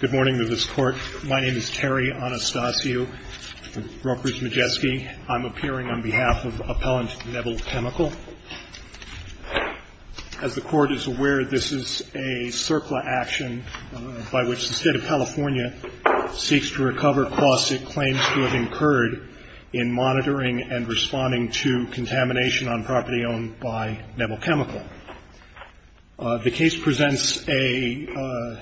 Good morning, Mrs. Court. My name is Terry Anastasio Ropers Majeski. I'm appearing on behalf of Appellant Neville Chemical. As the Court is aware, this is a CERCLA action by which the State of California seeks to recover costs it claims to have incurred in monitoring and responding to contamination on property owned by Neville Chemical. The case presents an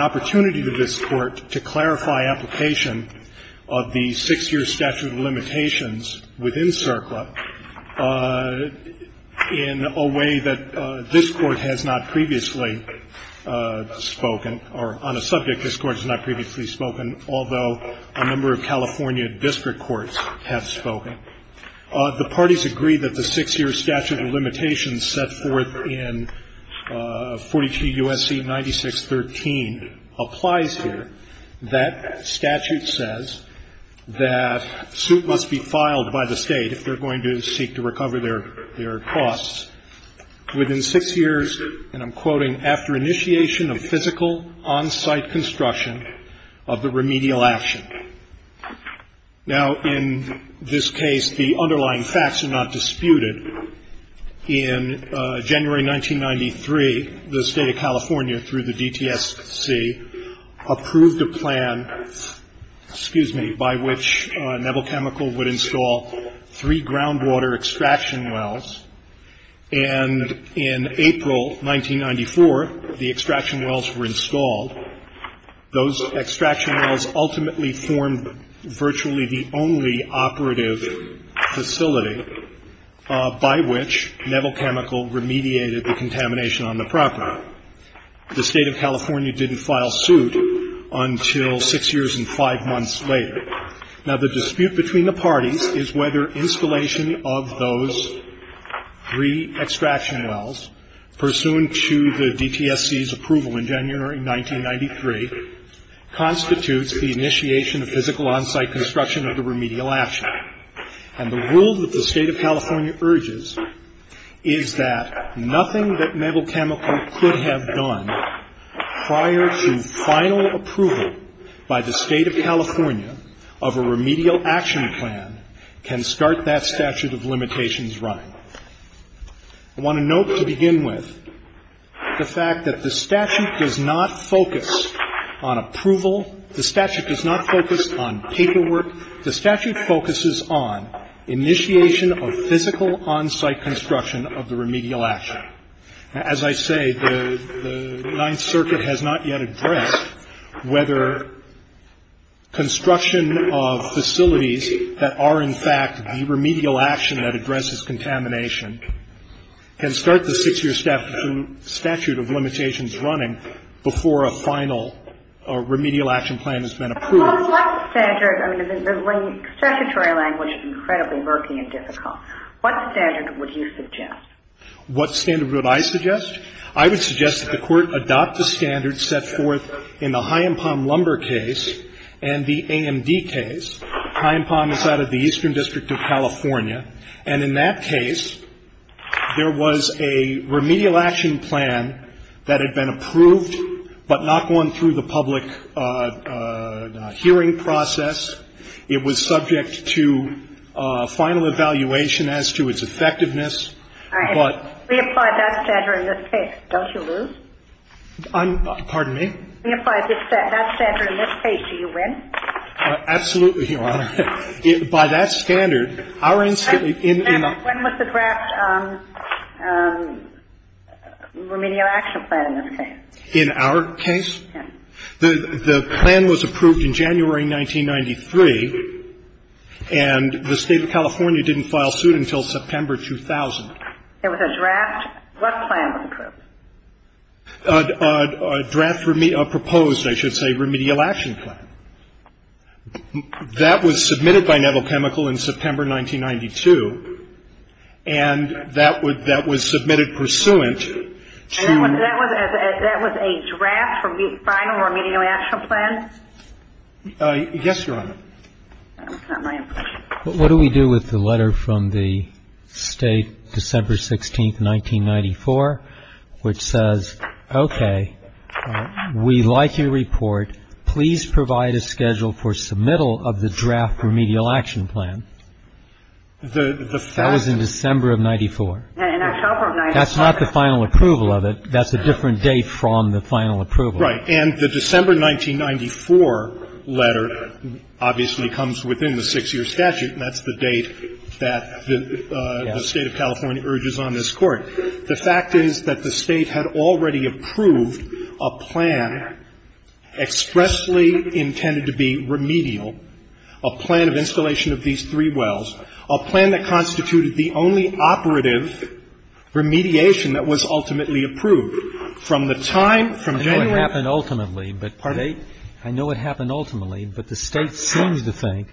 opportunity to this Court to clarify application of the six-year statute of limitations within CERCLA in a way that this Court has not previously spoken, or on a subject this Court has not previously spoken, although a number of California district courts have spoken. The parties agree that the six-year statute of limitations set forth in 42 U.S.C. 9613 applies here. That statute says that suit must be filed by the State if they're going to seek to recover their costs within six years, and I'm quoting, after initiation of physical on-site construction of the remedial action. Now, in this case, the underlying facts are not disputed. In January 1993, the State of California, through the DTSC, approved a plan by which Neville Chemical would install three groundwater extraction wells, and in April 1994, the extraction wells were installed. Those extraction wells ultimately formed virtually the only operative facility by which Neville Chemical remediated the contamination on the property. The State of California didn't file suit until six years and five months later. Now, the dispute between the parties is whether installation of those three extraction wells, pursuant to the DTSC's approval in January 1993, constitutes the initiation of physical on-site construction of the remedial action. And the rule that the State of California urges is that nothing that Neville Chemical could have done prior to final approval by the State of California of a remedial action plan can start that statute of limitations running. I want to note to begin with the fact that the statute does not focus on approval. The statute does not focus on paperwork. The statute focuses on initiation of physical on-site construction of the remedial action. As I say, the Ninth Circuit has not yet addressed whether construction of facilities that are, in fact, the remedial action that addresses contamination can start the six-year statute of limitations running before a final remedial action plan has been approved. The statutory language is incredibly murky and difficult. What standard would you suggest? What standard would I suggest? I would suggest that the Court adopt the standard set forth in the Highenpahm Lumber case and the AMD case. Highenpahm is out of the Eastern District of California. And in that case, there was a remedial action plan that had been approved, but not gone through the public hearing process. It was subject to final evaluation as to its effectiveness. All right. We apply that standard in this case. Don't you, Lou? Pardon me? We apply that standard in this case. Do you win? Absolutely, Your Honor. By that standard, our instance in the... When was the draft remedial action plan in this case? In our case? Yes. The plan was approved in January 1993, and the State of California didn't file suit until September 2000. There was a draft? What plan was approved? A draft proposed, I should say, remedial action plan. That was submitted by Nettle Chemical in September 1992, and that was submitted pursuant to... That was a draft final remedial action plan? Yes, Your Honor. That's not my impression. What do we do with the letter from the State, December 16, 1994, which says, Okay. We like your report. Please provide a schedule for submittal of the draft remedial action plan. The fact... That was in December of 94. In October of 94. That's not the final approval of it. That's a different date from the final approval. Right. And the December 1994 letter obviously comes within the six-year statute, and that's the date that the State of California urges on this Court. The fact is that the State had already approved a plan expressly intended to be remedial, a plan of installation of these three wells, a plan that constituted the only operative remediation that was ultimately approved. From the time from January... I know it happened ultimately, but... Pardon me? I know it happened ultimately, but the State seems to think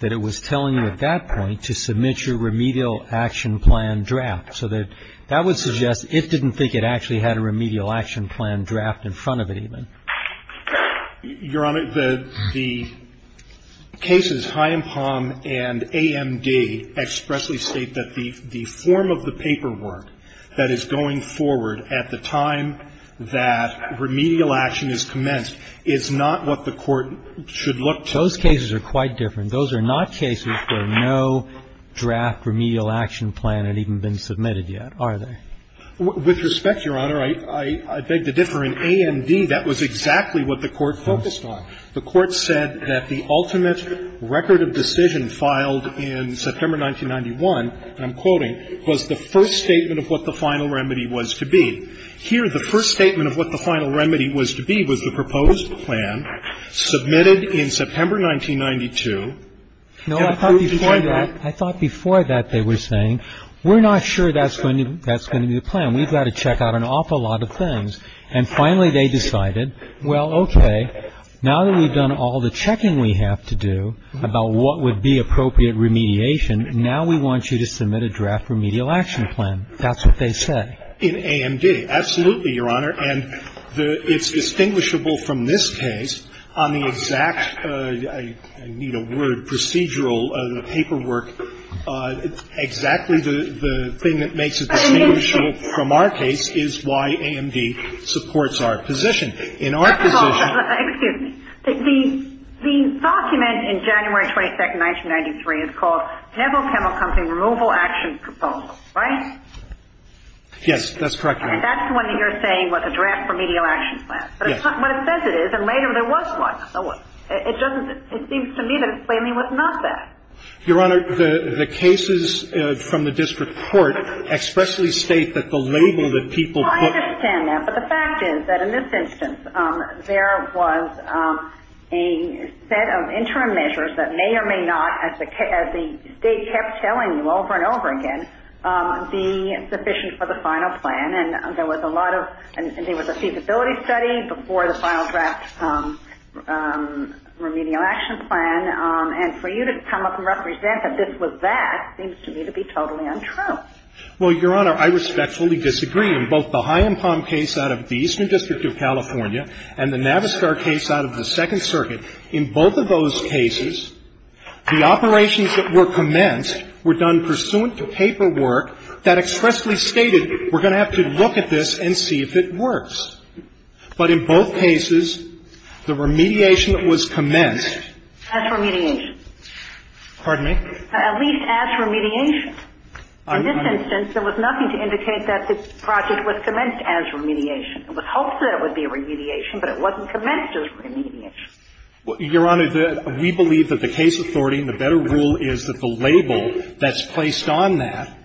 that it was telling you at that point to submit your remedial action plan draft so that that would suggest it didn't think it actually had a remedial action plan draft in front of it even. Your Honor, the cases Highenpahm and AMD expressly state that the form of the paperwork that is going forward at the time that remedial action is commenced is not what the Court should look to. Those cases are quite different. Those are not cases where no draft remedial action plan had even been submitted yet, are they? With respect, Your Honor, I beg to differ. In AMD, that was exactly what the Court focused on. The Court said that the ultimate record of decision filed in September 1991, and I'm quoting, was the first statement of what the final remedy was to be. Here, the first statement of what the final remedy was to be was the proposed plan submitted in September 1992... No, I thought before that they were saying, we're not sure that's going to be the plan. We've got to check out an awful lot of things. And finally they decided, well, okay, now that we've done all the checking we have to do about what would be appropriate remediation, now we want you to submit a draft remedial action plan. That's what they say. In AMD. Absolutely, Your Honor. And it's distinguishable from this case on the exact, I need a word, procedural, the paperwork, exactly the thing that makes it distinguishable from our case is why AMD supports our position. In our position... Excuse me. The document in January 22nd, 1993 is called Neville Chemical Company Removal Action Proposal, right? Yes, that's correct, Your Honor. And that's the one that you're saying was a draft remedial action plan. Yes. But it's not what it says it is, and later there was one. So it doesn't, it seems to me that it's claiming it was not that. Your Honor, the cases from the district court expressly state that the label that people put... Well, I understand that. But the fact is that in this instance there was a set of interim measures that may or may not, as the state kept telling you over and over again, be sufficient for the final plan. And there was a lot of, there was a feasibility study before the final draft remedial action plan. And for you to come up and represent that this was that seems to me to be totally untrue. Well, Your Honor, I respectfully disagree. In both the High and Palm case out of the Eastern District of California and the Navistar case out of the Second Circuit, in both of those cases, the operations that were commenced were done pursuant to paperwork that expressly stated we're going to have to look at this and see if it works. But in both cases, the remediation that was commenced... As remediation. Pardon me? At least as remediation. In this instance, there was nothing to indicate that this project was commenced as remediation. It was hoped that it would be a remediation, but it wasn't commenced as remediation. Your Honor, we believe that the case authority and the better rule is that the label that's placed on that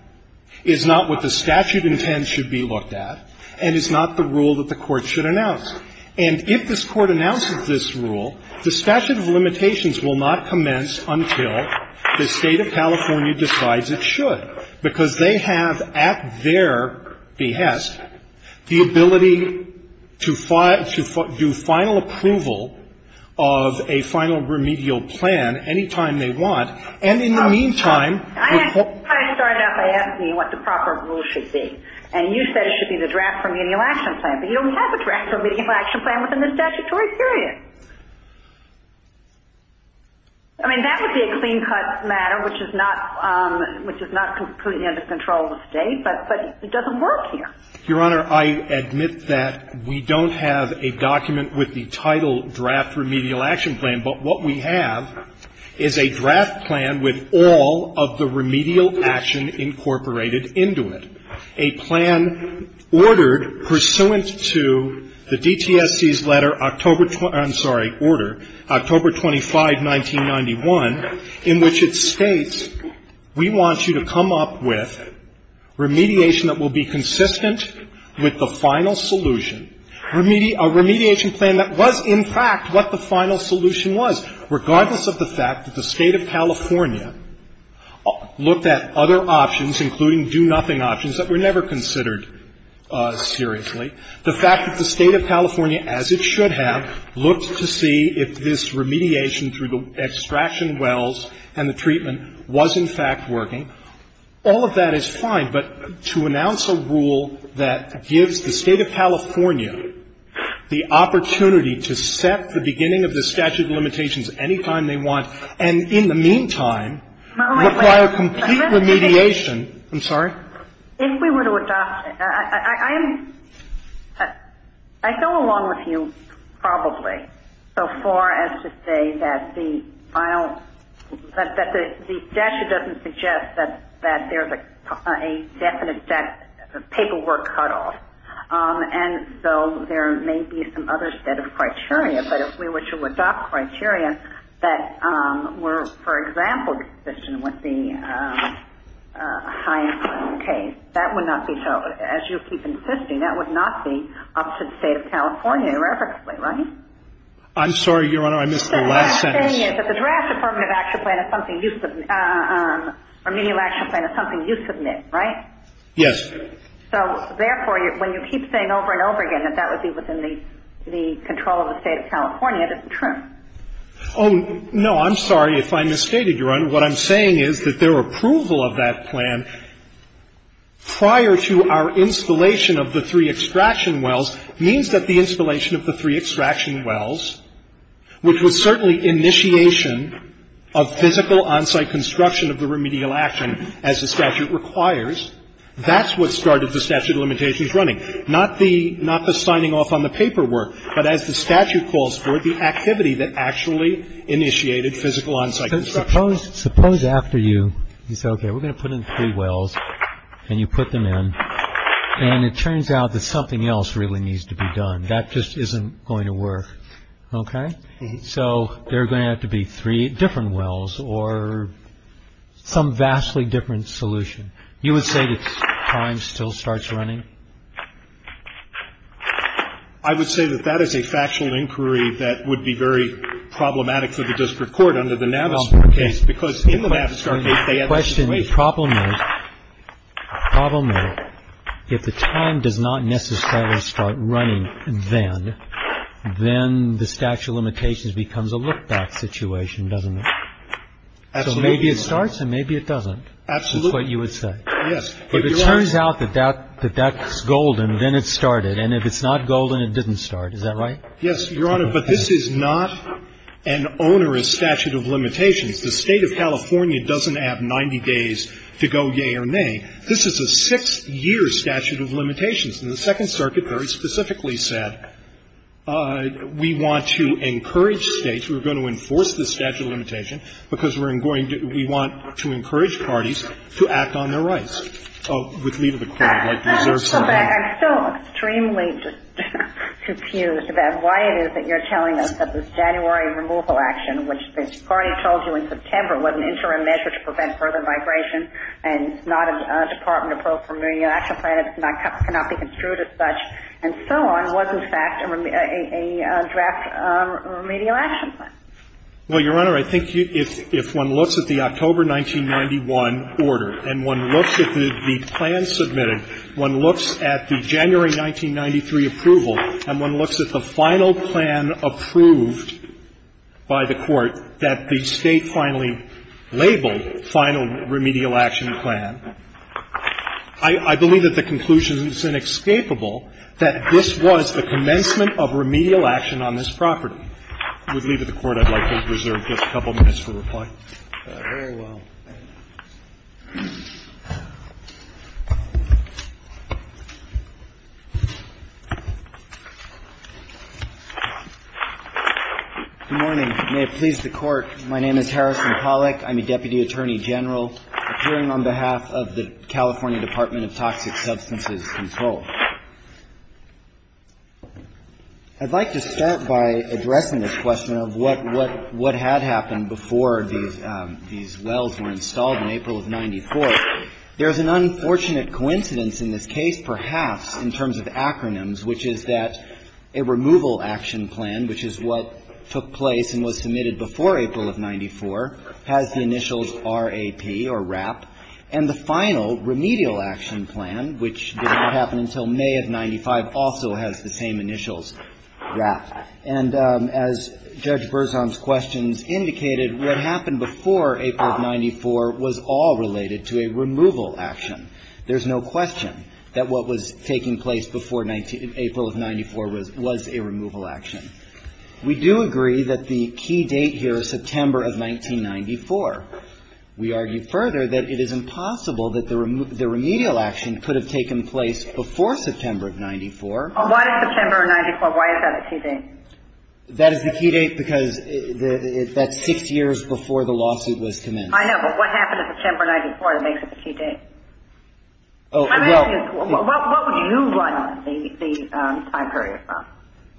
is not what the statute intends should be looked at and is not the rule that the Court should announce. And if this Court announces this rule, the statute of limitations will not commence until the State of California decides it should, because they have at their behest the ability to do final approval of a final remedial plan any time they want. And in the meantime... I asked you when I started up, I asked you what the proper rule should be. And you said it should be the draft remedial action plan. But you don't have a draft remedial action plan within the statutory period. I mean, that would be a clean-cut matter, which is not completely under control of the State, but it doesn't work here. Your Honor, I admit that we don't have a document with the title draft remedial action plan, but what we have is a draft plan with all of the remedial action incorporated into it, a plan ordered pursuant to the DTSC's letter October 25th, I'm sorry, order, October 25, 1991, in which it states, We want you to come up with remediation that will be consistent with the final solution. A remediation plan that was in fact what the final solution was, regardless of the fact that the State of California looked at other options, including do-nothing options, that were never considered seriously. The fact that the State of California, as it should have, looked to see if this was in fact working, all of that is fine, but to announce a rule that gives the State of California the opportunity to set the beginning of the statute of limitations any time they want, and in the meantime, require complete remediation, I'm sorry? If we were to adopt it, I'm — I go along with you, probably, so far as to say that the final — that the statute doesn't suggest that there's a definite paperwork cutoff. And so there may be some other set of criteria, but if we were to adopt criteria that were, for example, consistent with the high-impact case, that would not be so — as you keep insisting, that would not be up to the State of California irrevocably, right? I'm sorry, Your Honor, I missed the last sentence. So what you're saying is that the draft affirmative action plan is something you — or menial action plan is something you submit, right? Yes. So therefore, when you keep saying over and over again that that would be within the control of the State of California, that's not true. Oh, no. I'm sorry if I misstated, Your Honor. What I'm saying is that their approval of that plan prior to our installation of the three extraction wells means that the installation of the three extraction wells, which was certainly initiation of physical on-site construction of the remedial action as the statute requires, that's what started the statute of limitations running, not the — not the signing off on the paperwork, but as the statute calls for, the activity that actually initiated physical on-site construction. Suppose after you — you say, okay, we're going to put in three wells, and you put them in, and it turns out that something else really needs to be done. That just isn't going to work, okay? So there are going to have to be three different wells or some vastly different solution. You would say that time still starts running? I would say that that is a factual inquiry that would be very problematic for the case, because in the Mafra case, they had this way. The question — the problem is, if the time does not necessarily start running then, then the statute of limitations becomes a look-back situation, doesn't it? Absolutely. So maybe it starts and maybe it doesn't. Absolutely. That's what you would say. Yes. If it turns out that that's golden, then it started. And if it's not golden, it didn't start. Is that right? Yes, Your Honor. But this is not an onerous statute of limitations. The State of California doesn't have 90 days to go yea or nay. This is a six-year statute of limitations. And the Second Circuit very specifically said, we want to encourage States, we're going to enforce the statute of limitation, because we're going to — we want to encourage parties to act on their rights with leave of the court. I'm so extremely confused about why it is that you're telling us that this January removal action, which the party told you in September was an interim measure to prevent further migration, and it's not a department-approved remedial action plan, it cannot be construed as such, and so on, was, in fact, a draft remedial action plan. Well, Your Honor, I think if one looks at the October 1991 order, and one looks at the plan submitted, one looks at the January 1993 approval, and one looks at the final plan approved by the Court that the State finally labeled final remedial action plan, I believe that the conclusion is inescapable that this was the commencement of remedial action on this property. With leave of the court, I'd like to reserve just a couple minutes for reply. Thank you, Your Honor. Very well. Good morning. May it please the Court. My name is Harrison Pollack. I'm a deputy attorney general appearing on behalf of the California Department of Toxic Substances Control. I'd like to start by addressing this question of what had happened before these wells were installed in April of 94. There's an unfortunate coincidence in this case, perhaps, in terms of acronyms, which is that a removal action plan, which is what took place and was submitted before April of 94, has the initials RAP, or RAP, and the final remedial action plan, which did not happen until May of 95, also has the same initials, RAP. And as Judge Berzon's questions indicated, what happened before April of 94 was all related to a removal action. There's no question that what was taking place before April of 94 was a removal action. We do agree that the key date here is September of 1994. We argue further that it is impossible that the remedial action could have taken place before September of 94. Why September of 94? Why is that the key date? That is the key date because that's six years before the lawsuit was commenced. I know. But what happened in September of 94 that makes it the key date? I'm asking, what would you run the time period from?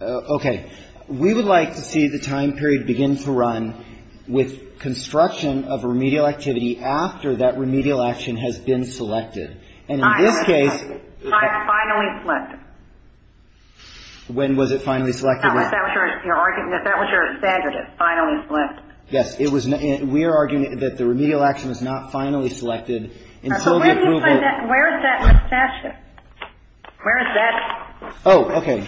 Okay. We would like to see the time period begin to run with construction of a remedial activity after that remedial action has been selected. And in this case ---- I finally flipped. When was it finally selected? That was your argument. That was your statute. It finally flipped. Yes. We are arguing that the remedial action was not finally selected until the approval Where is that statute? Where is that? Oh, okay.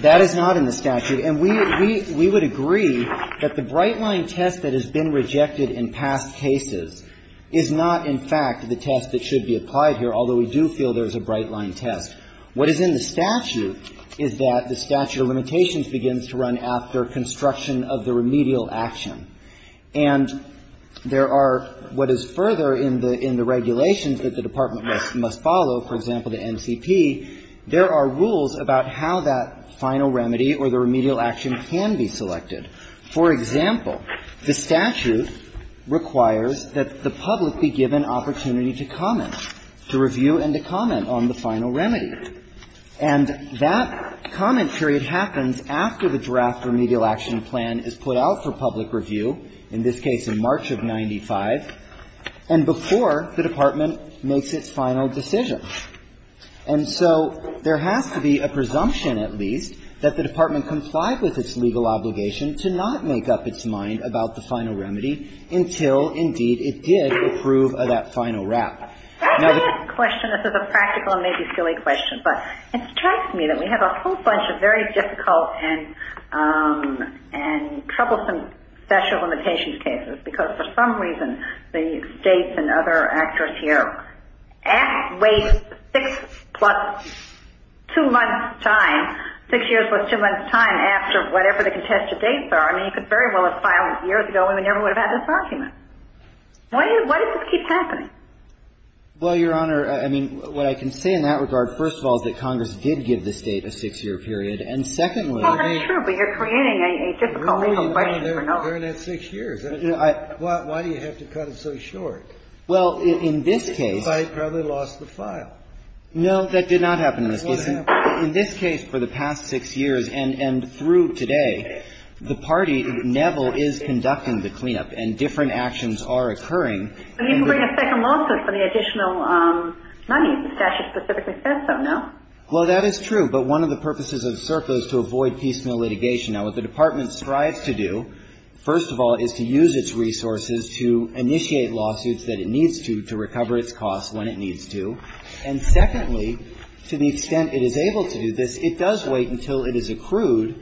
That is not in the statute. And we would agree that the bright-line test that has been rejected in past cases is not, in fact, the test that should be applied here, although we do feel there is a bright-line test. What is in the statute is that the statute of limitations begins to run after construction of the remedial action. And there are what is further in the regulations that the Department must follow, for example, the MCP, there are rules about how that final remedy or the remedial action can be selected. For example, the statute requires that the public be given opportunity to comment, to review and to comment on the final remedy. And that comment period happens after the draft remedial action plan is put out for public review, in this case in March of 95, and before the Department makes its final decision. And so there has to be a presumption, at least, that the Department complied with its legal obligation to not make up its mind about the final remedy until, indeed, it did approve of that final wrap. Now, the question, this is a practical and maybe silly question, but it strikes me that we have a whole bunch of very difficult and troublesome statute of limitations cases because, for some reason, the States and other actors here wait six plus, two months' time, six years plus two months' time after whatever the contested dates are. I mean, you could very well have filed years ago and we never would have had this document. Why does this keep happening? Well, Your Honor, I mean, what I can say in that regard, first of all, is that Congress did give the State a six-year period. And secondly — Well, that's true, but you're creating a difficult legal question for no one. They're in that six years. Why do you have to cut it so short? Well, in this case — The party probably lost the file. No, that did not happen in this case. In this case, for the past six years and through today, the party, Neville, is conducting the cleanup, and different actions are occurring. But he would bring a second lawsuit for the additional money. The statute specifically says so, no? Well, that is true. But one of the purposes of CERCA is to avoid piecemeal litigation. Now, what the Department strives to do, first of all, is to use its resources to initiate lawsuits that it needs to, to recover its costs when it needs to. And secondly, to the extent it is able to do this, it does wait until it has accrued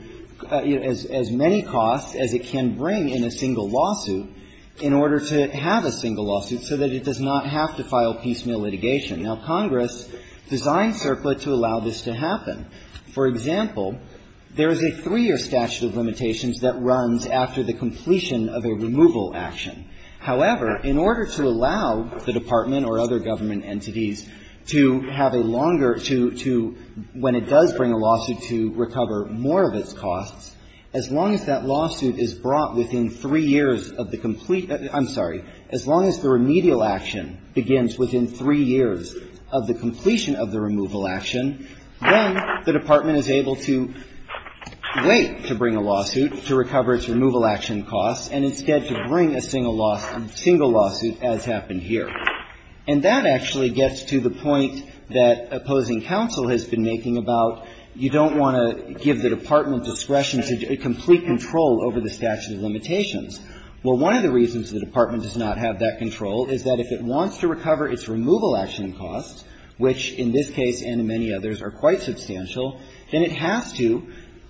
as many costs as it can bring in a single lawsuit in order to have a single lawsuit so that it does not have to file piecemeal litigation. Now, Congress designed CERCA to allow this to happen. For example, there is a three-year statute of limitations that runs after the completion of a removal action. However, in order to allow the Department or other government entities to have a longer to — to — when it does bring a lawsuit to recover more of its costs, as long as that lawsuit is brought within three years of the complete — I'm sorry. As long as the remedial action begins within three years of the completion of the removal action, then the Department is able to wait to bring a lawsuit to recover its removal action costs, and instead to bring a single lawsuit, single lawsuit as happened here. And that actually gets to the point that opposing counsel has been making about you don't want to give the Department discretion to complete control over the statute of limitations. Well, one of the reasons the Department does not have that control is that if it wants to recover its removal action costs, which in this case and in many others are quite substantial, then it has to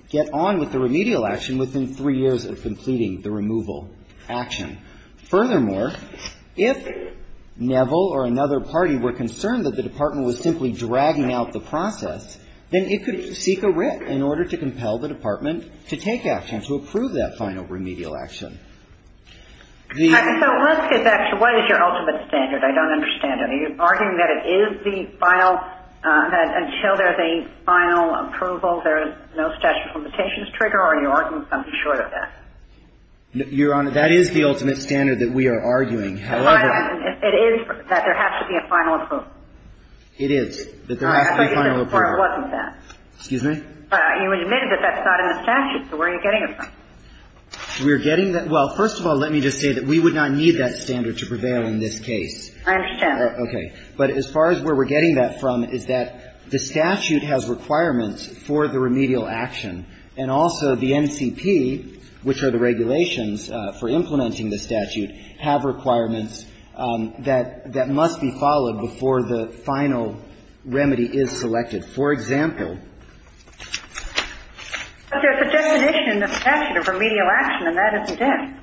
get on with the remedial action within three years of completing the removal action. Furthermore, if Neville or another party were concerned that the Department was simply dragging out the process, then it could seek a writ in order to compel the Department to take action, to approve that final remedial action. The — So let's get back to what is your ultimate standard. I don't understand it. Are you arguing that it is the final — that until there's a final approval, there's no statute of limitations trigger, or are you arguing something short of that? Your Honor, that is the ultimate standard that we are arguing. However — It is that there has to be a final approval. It is that there has to be a final approval. Or it wasn't that. Excuse me? You admitted that that's not in the statute. So where are you getting it from? We're getting that — well, first of all, let me just say that we would not need that standard to prevail in this case. I understand. Okay. But as far as where we're getting that from is that the statute has requirements for the remedial action, and also the NCP, which are the regulations for implementing the statute, have requirements that must be followed before the final remedy is selected. For example — But there's a definition in the statute of remedial action, and that isn't there.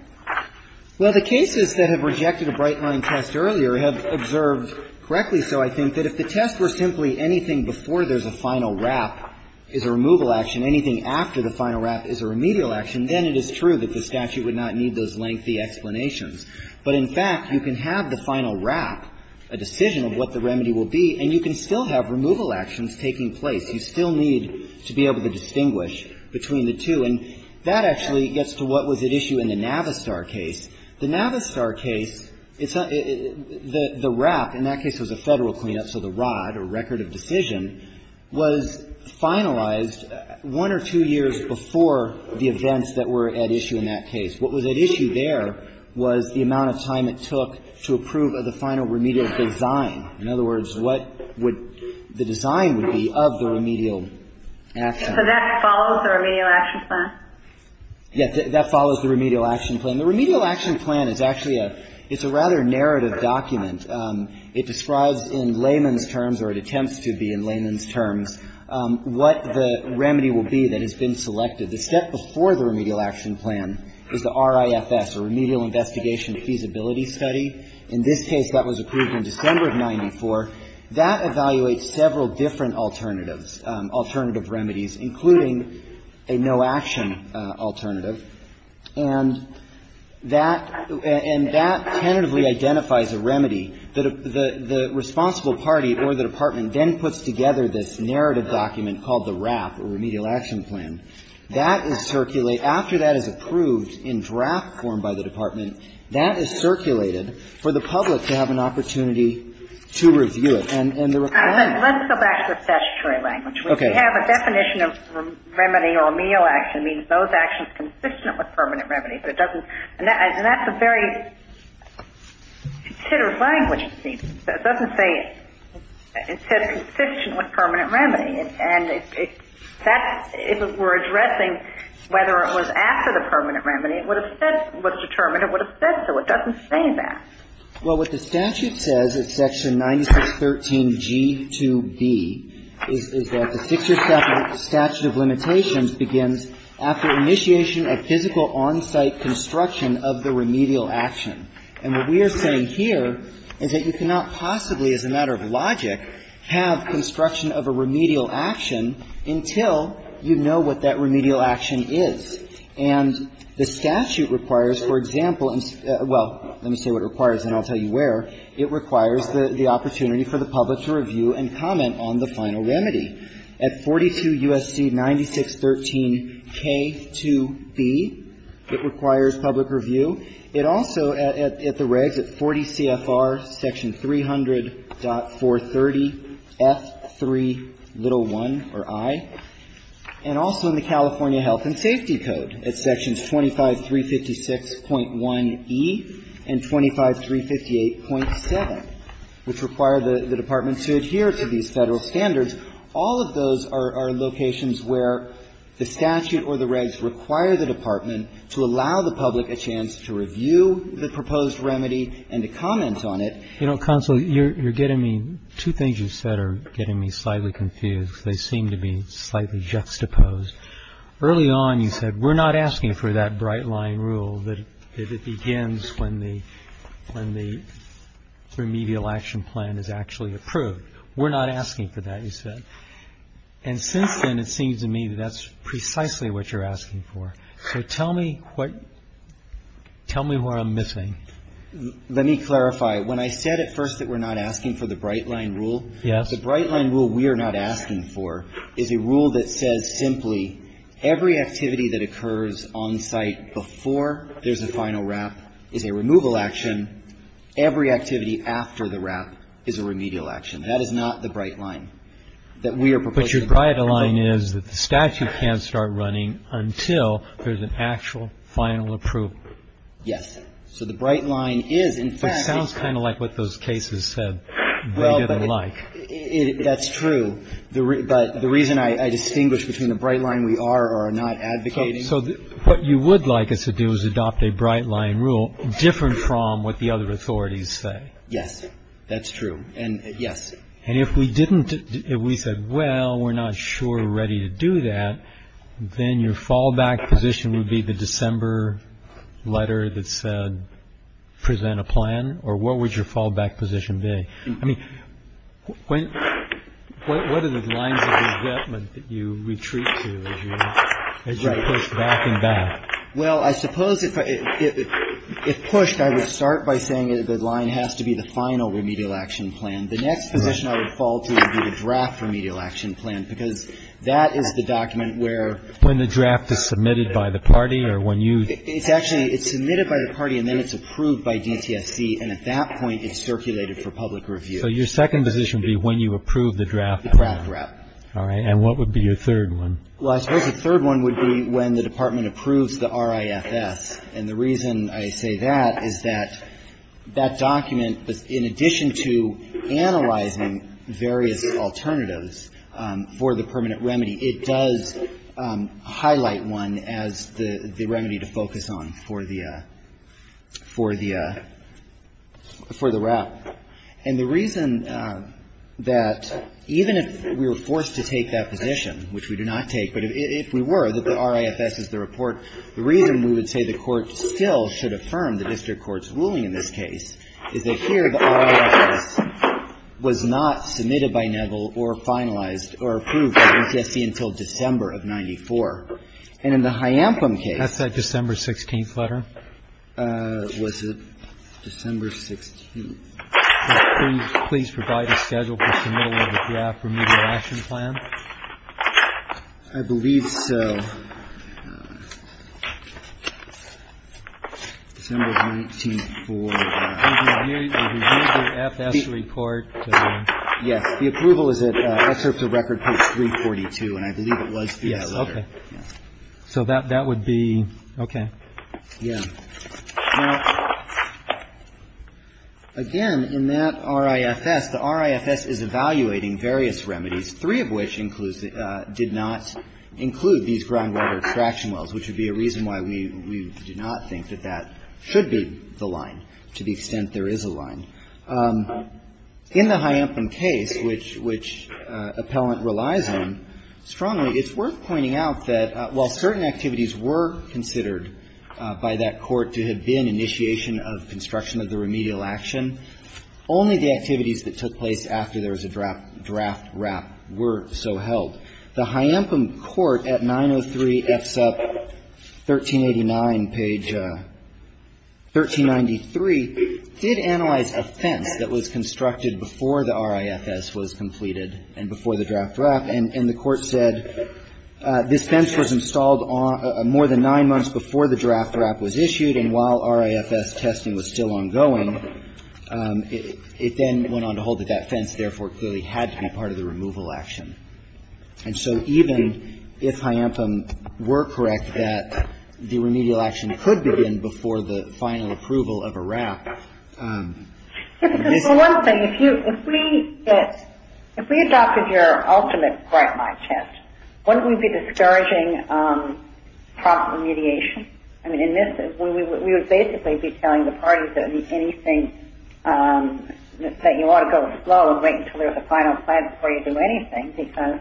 Well, the cases that have rejected a bright-line test earlier have observed correctly so, I think, that if the test were simply anything before there's a final wrap is a removal action, anything after the final wrap is a remedial action, then it is true that the statute would not need those lengthy explanations. But in fact, you can have the final wrap, a decision of what the remedy will be, and you can still have removal actions taking place. You still need to be able to distinguish between the two. And that actually gets to what was at issue in the Navistar case. The Navistar case, the wrap in that case was a Federal cleanup, so the rod or record of decision was finalized one or two years before the events that were at issue in that case. What was at issue there was the amount of time it took to approve the final remedial design. In other words, what would the design would be of the remedial action. So that follows the remedial action plan? Yes. That follows the remedial action plan. The remedial action plan is actually a, it's a rather narrative document. It describes in layman's terms or it attempts to be in layman's terms what the remedy will be that has been selected. The step before the remedial action plan is the RIFS, the Remedial Investigation Feasibility Study. In this case, that was approved in December of 94. That evaluates several different alternatives, alternative remedies, including a no-action alternative. And that, and that tentatively identifies a remedy that the responsible party or the Department then puts together this narrative document called the wrap or remedial action plan. That is circulated, after that is approved in draft form by the Department, that is circulated for the public to have an opportunity to review it. And the requirement. Let's go back to the statutory language. Okay. We have a definition of remedy or remedial action means those actions consistent with permanent remedies. It doesn't, and that's a very considerate language to use. It doesn't say, it says consistent with permanent remedy. And if that's, if we're addressing whether it was after the permanent remedy, it would have said, was determined, it would have said so. It doesn't say that. Well, what the statute says, it's section 9613G2B, is that the six-year statute of limitations begins after initiation of physical on-site construction of the remedial action. And what we are saying here is that you cannot possibly, as a matter of logic, have construction of a remedial action until you know what that remedial action is. And the statute requires, for example, well, let me say what it requires, and I'll tell you where. It requires the opportunity for the public to review and comment on the final remedy. At 42 U.S.C. 9613K2B, it requires public review. It also, at the regs, at 40 CFR section 300.430F31i, and also in the California Health and Safety Code at sections 25356.1e and 25358.7, which require the department to adhere to these Federal standards, all of those are locations where the statute or the regs require the department to allow the public a chance to review the proposed remedy and to comment on it. You know, counsel, you're getting me, two things you said are getting me slightly confused. They seem to be slightly juxtaposed. Early on, you said, we're not asking for that bright-line rule that it begins when the remedial action plan is actually approved. We're not asking for that, you said. And since then, it seems to me that that's precisely what you're asking for. So tell me what I'm missing. Let me clarify. When I said at first that we're not asking for the bright-line rule, the bright-line rule we are not asking for is a rule that says simply, every activity that occurs on-site before there's a final wrap is a removal action. Every activity after the wrap is a remedial action. That is not the bright-line that we are proposing. But your bright-line is that the statute can't start running until there's an actual final approval. Yes. So the bright-line is, in fact, it's not. It sounds kind of like what those cases said they didn't like. Well, that's true. But the reason I distinguish between the bright-line we are or are not advocating. So what you would like us to do is adopt a bright-line rule different from what the other authorities say. Yes. That's true. And, yes. And if we didn't, if we said, well, we're not sure we're ready to do that, then your fallback position would be the December letter that said present a plan? Or what would your fallback position be? I mean, what are the lines of resentment that you retreat to as you push back and back? Well, I suppose if pushed, I would start by saying the line has to be the final remedial action plan. The next position I would fall to would be the draft remedial action plan, because that is the document where. When the draft is submitted by the party or when you. It's actually, it's submitted by the party and then it's approved by DTFC. And at that point, it's circulated for public review. So your second position would be when you approve the draft plan. The draft plan. All right. And what would be your third one? Well, I suppose the third one would be when the Department approves the RIFS. And the reason I say that is that that document, in addition to analyzing various alternatives for the permanent remedy, it does highlight one as the remedy to focus on for the, for the, for the rap. And the reason that even if we were forced to take that position, which we do not take, but if we were, that the RIFS is the report, the reason we would say the Court still should affirm the district court's ruling in this case is that here the RIFS was not submitted by Neville or finalized or approved by DTFC until December of 94. And in the hiampum case. That's that December 16th letter. Was it December 16th? Could you please provide a schedule for submitting the draft remedial action plan? I believe so. December of 94. Yes. The approval is at record 342. And I believe it was. Yeah. So that that would be. OK. Yeah. Again, in that RIFS, the RIFS is evaluating various remedies, three of which includes that did not include these ground water extraction wells, which would be a reason why we do not think that that should be the line to the extent there is a line. In the hiampum case, which appellant relies on strongly, it's worth pointing out that while certain activities were considered by that court to have been initiation of construction of the remedial action, only the activities that took place after there was a draft were so held. The hiampum court at 903XUP 1389, page 1393, did analyze a fence that was constructed before the RIFS was completed and before the draft wrap. And the court said this fence was installed more than nine months before the draft wrap was issued, and while RIFS testing was still ongoing, it then went on to hold that that fence therefore clearly had to be part of the removal action. And so even if hiampum were correct, that the remedial action could begin before the final approval of a wrap. Yes, but one thing. If we adopted your ultimate right by test, wouldn't we be discouraging prompt remediation? I mean, in this, we would basically be telling the parties that anything, that you ought to go slow and wait until there's a final plan before you do anything, because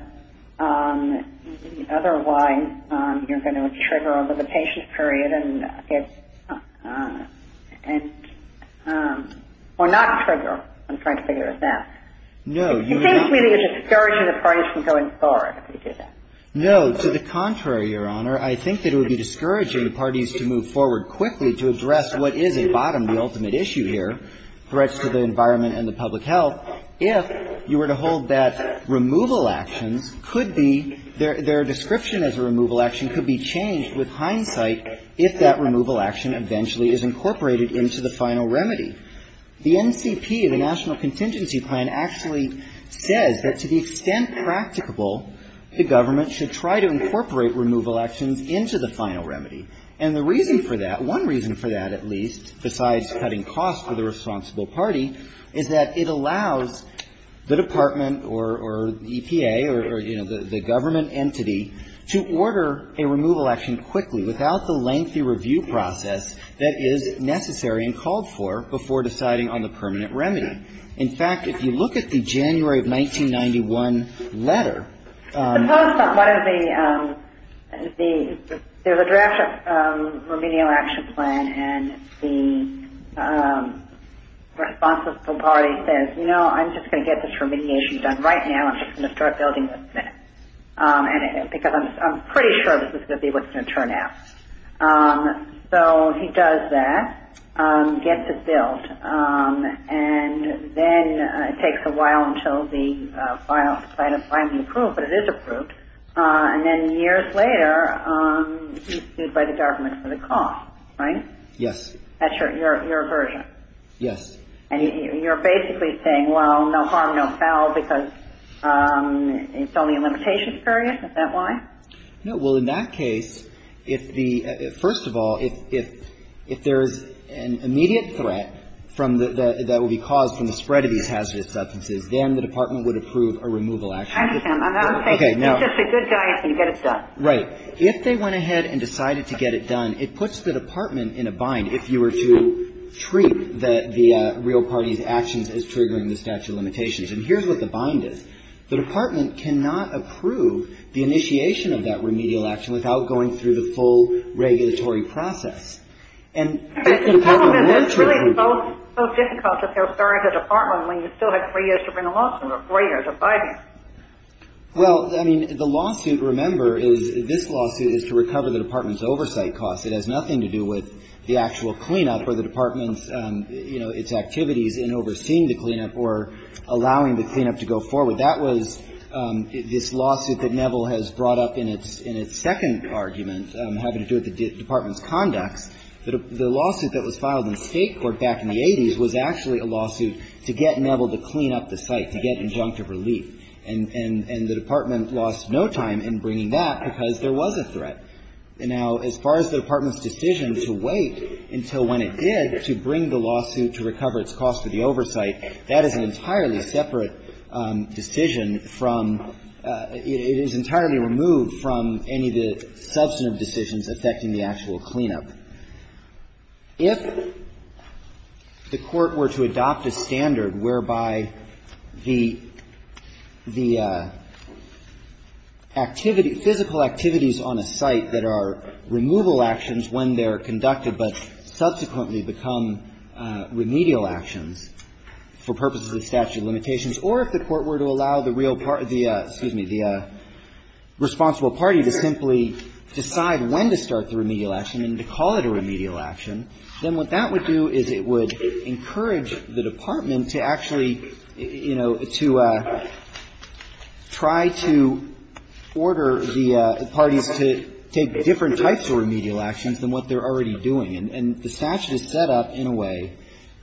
otherwise you're going to trigger over the patient period and get or not trigger, I'm trying to figure it out. It seems to me that you're discouraging the parties from going forward if we do that. No. To the contrary, Your Honor, I think that it would be discouraging the parties to move forward quickly to address what is at bottom the ultimate issue here, threats to the environment and the public health, if you were to hold that removal actions could be, their description as a removal action could be changed with hindsight if that removal action eventually is incorporated into the final remedy. The NCP, the National Contingency Plan, actually says that to the extent practicable, the government should try to incorporate removal actions into the final remedy. And the reason for that, one reason for that at least, besides cutting costs for the responsible party, is that it allows the department or EPA or, you know, the government entity to order a removal action quickly without the lengthy review process that is necessary and called for before deciding on the permanent remedy. In fact, if you look at the January of 1991 letter. It's a post on one of the, there's a draft remedial action plan and the responsible party says, no, I'm just going to get this remediation done right now, I'm just going to start building this in a minute, because I'm pretty sure this is going to be what it's going to turn out. So he does that, gets it built, and then it takes a while until the final plan is finally approved, but it is approved, and then years later he's sued by the government for the cost, right? Yes. That's your version. Yes. And you're basically saying, well, no harm, no foul, because it's only a limitation period? Is that why? No. Well, in that case, if the, first of all, if there's an immediate threat from the, that will be caused from the spread of these hazardous substances, then the department would approve a removal action. I understand. Okay. Now. It's just a good diet and you get it done. Right. If they went ahead and decided to get it done, it puts the department in a bind if you were to treat the real party's actions as triggering the statute of limitations. And here's what the bind is. The department cannot approve the initiation of that remedial action without going through the full regulatory process. And if the department wants to approve it. It's really so difficult if they're firing the department when you still have three years to bring a lawsuit or four years or five years. Well, I mean, the lawsuit, remember, is, this lawsuit is to recover the department's oversight costs. It has nothing to do with the actual cleanup or the department's, you know, its activities in overseeing the cleanup or allowing the cleanup to go forward. That was this lawsuit that Neville has brought up in its second argument having to do with the department's conducts. The lawsuit that was filed in the State court back in the 80s was actually a lawsuit to get Neville to clean up the site, to get injunctive relief. And the department lost no time in bringing that because there was a threat. Now, as far as the department's decision to wait until when it did to bring the lawsuit to recover its costs for the oversight, that is an entirely separate decision from – it is entirely removed from any of the substantive decisions affecting the actual cleanup. If the Court were to adopt a standard whereby the activity, physical activities on a site that are removal actions when they're conducted but subsequently become remedial actions for purposes of statute of limitations, or if the Court were to allow the real – excuse me, the responsible party to simply decide when to start the remedial action and to call it a remedial action, then what that would do is it would encourage the department to actually, you know, to try to order the site up in a way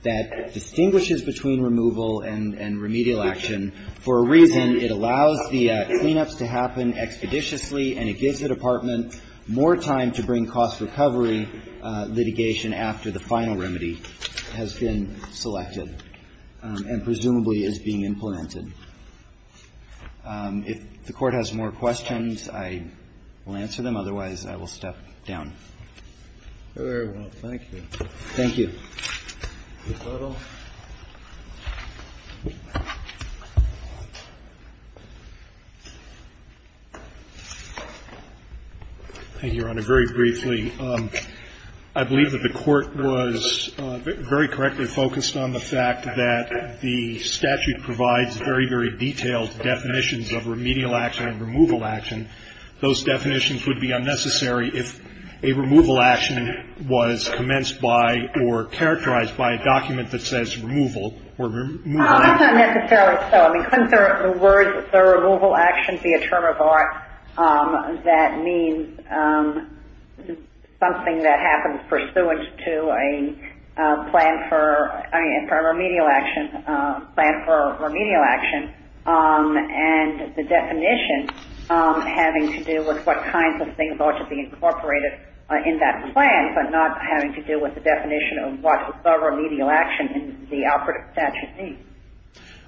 that distinguishes between removal and remedial action for a reason. It allows the cleanups to happen expeditiously, and it gives the department more time to bring costs recovery litigation after the final remedy has been selected and presumably is being implemented. If the Court has more questions, I will answer them. Otherwise, I will step down. Very well. Thank you. Thank you. Mr. Butler. Thank you, Your Honor. Very briefly. I believe that the Court was very correctly focused on the fact that the statute provides very, very detailed definitions of remedial action and removal action. Those definitions would be unnecessary if a removal action was commenced by or characterized by a document that says removal. Well, that's not necessarily so. I mean, couldn't the word, the removal action, be a term of art that means something that happens pursuant to a plan for, I mean, for a remedial action, plan for remedial action, and the definition having to do with what kinds of things ought to be incorporated in that plan, but not having to do with the definition of what a remedial action in the operative statute means?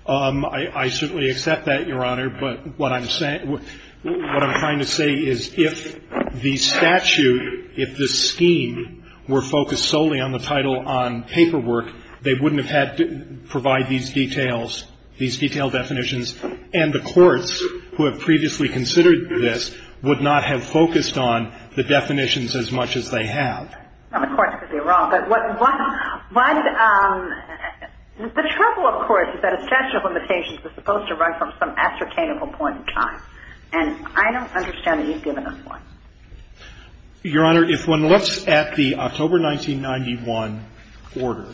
I certainly accept that, Your Honor, but what I'm trying to say is if the statute, if the scheme were focused solely on the title on paperwork, they wouldn't have had to provide these details, these detailed definitions, and the courts who have previously considered this would not have focused on the definitions as much as they have. Well, the courts could be wrong. But what the trouble of courts is that a statute of limitations is supposed to run from some ascertainable point in time. And I don't understand that you've given us one. Your Honor, if one looks at the October 1991 order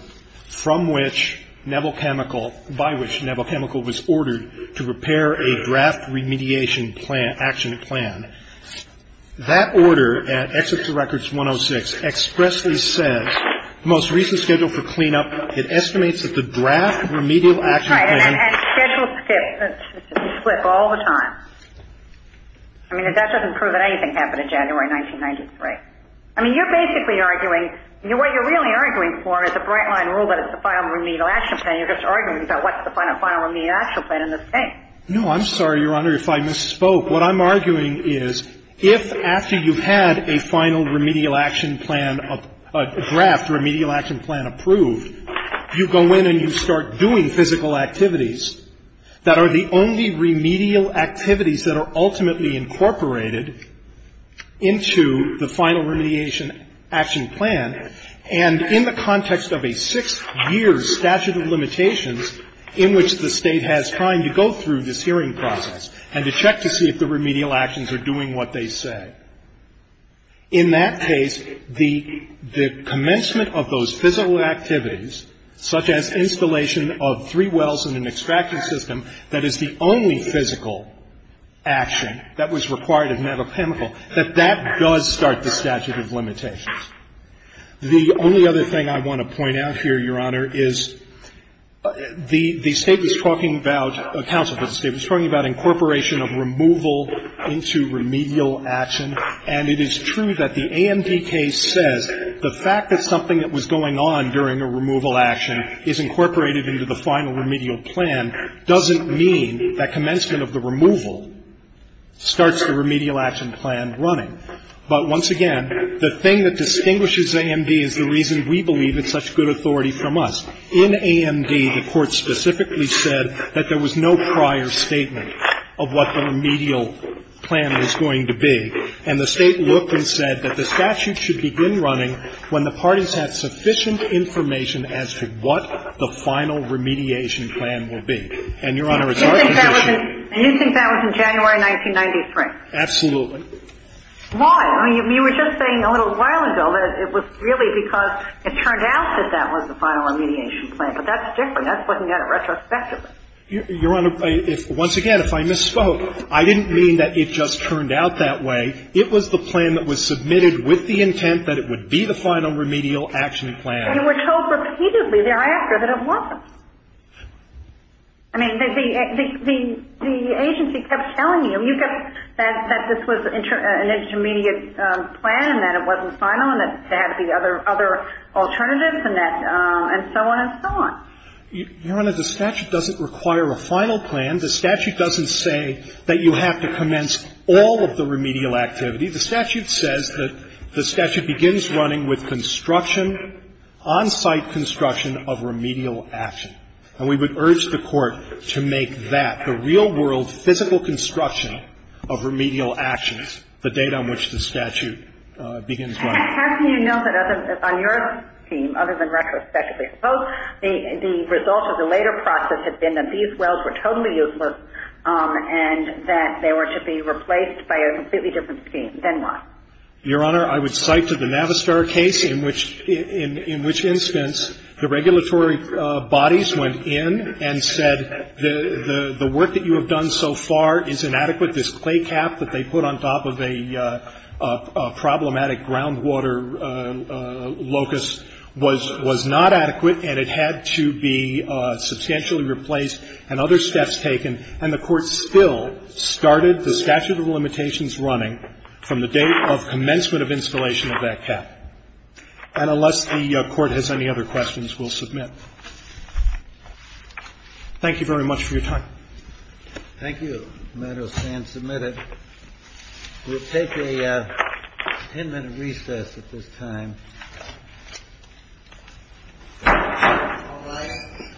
from which Neville Chemical by which Neville Chemical was ordered to prepare a draft remediation plan, action plan, that order at Exeter Records 106 expressly says, most recently scheduled for cleanup. It estimates that the draft remedial action plan. Right. And schedule skips. It's a slip all the time. I mean, that doesn't prove that anything happened in January 1993. I mean, you're basically arguing, what you're really arguing for is a bright-line rule that it's a final remedial action plan. You're just arguing about what's the final remedial action plan in this case. No, I'm sorry, Your Honor, if I misspoke. What I'm arguing is if after you've had a final remedial action plan, a draft remedial action plan approved, you go in and you start doing physical activities that are the only remedial activities that are ultimately incorporated into the final remediation action plan, and in the context of a six-year statute of limitations in which the State has time to go through this hearing process and to check to see if the remedial actions are doing what they say. In that case, the commencement of those physical activities, such as installation of three wells in an extraction system, that is the only physical action that was required of medical chemical, that that does start the statute of limitations. The only other thing I want to point out here, Your Honor, is the State was talking about, counsel for the State, was talking about incorporation of removal into remedial action, and it is true that the AMD case says the fact that something that was going on during a removal action is incorporated into the final remedial plan doesn't mean that commencement of the removal starts the remedial action plan running. But once again, the thing that distinguishes AMD is the reason we believe it's such good authority from us. In AMD, the Court specifically said that there was no prior statement of what the remedial plan was going to be, and the State looked and said that the statute should begin running when the parties have sufficient information as to what the final remediation plan will be. And, Your Honor, as far as I'm concerned ---- And you think that was in January 1993? Absolutely. Why? I mean, you were just saying a little while ago that it was really because it turned out that that was the final remediation plan. But that's different. That's looking at it retrospectively. Your Honor, once again, if I misspoke, I didn't mean that it just turned out that way. It was the plan that was submitted with the intent that it would be the final remedial action plan. But you were told repeatedly thereafter that it wasn't. I mean, the agency kept telling you that this was an intermediate plan and that it wasn't final and that there had to be other alternatives and so on and so on. Your Honor, the statute doesn't require a final plan. The statute doesn't say that you have to commence all of the remedial activity. The statute says that the statute begins running with construction, on-site construction of remedial action. And we would urge the Court to make that, the real-world physical construction of remedial actions, the date on which the statute begins running. How can you know that on your team, other than retrospectively? The result of the later process had been that these wells were totally useless and that they were to be replaced by a completely different scheme. Then what? Your Honor, I would cite to the Navistar case in which instance the regulatory bodies went in and said the work that you have done so far is inadequate. This clay cap that they put on top of a problematic groundwater locus was not adequate and it had to be substantially replaced and other steps taken. And the Court still started the statute of limitations running from the date of commencement of installation of that cap. And unless the Court has any other questions, we'll submit. Thank you very much for your time. Thank you. The matter stands submitted. We'll take a ten-minute recess at this time. All rise.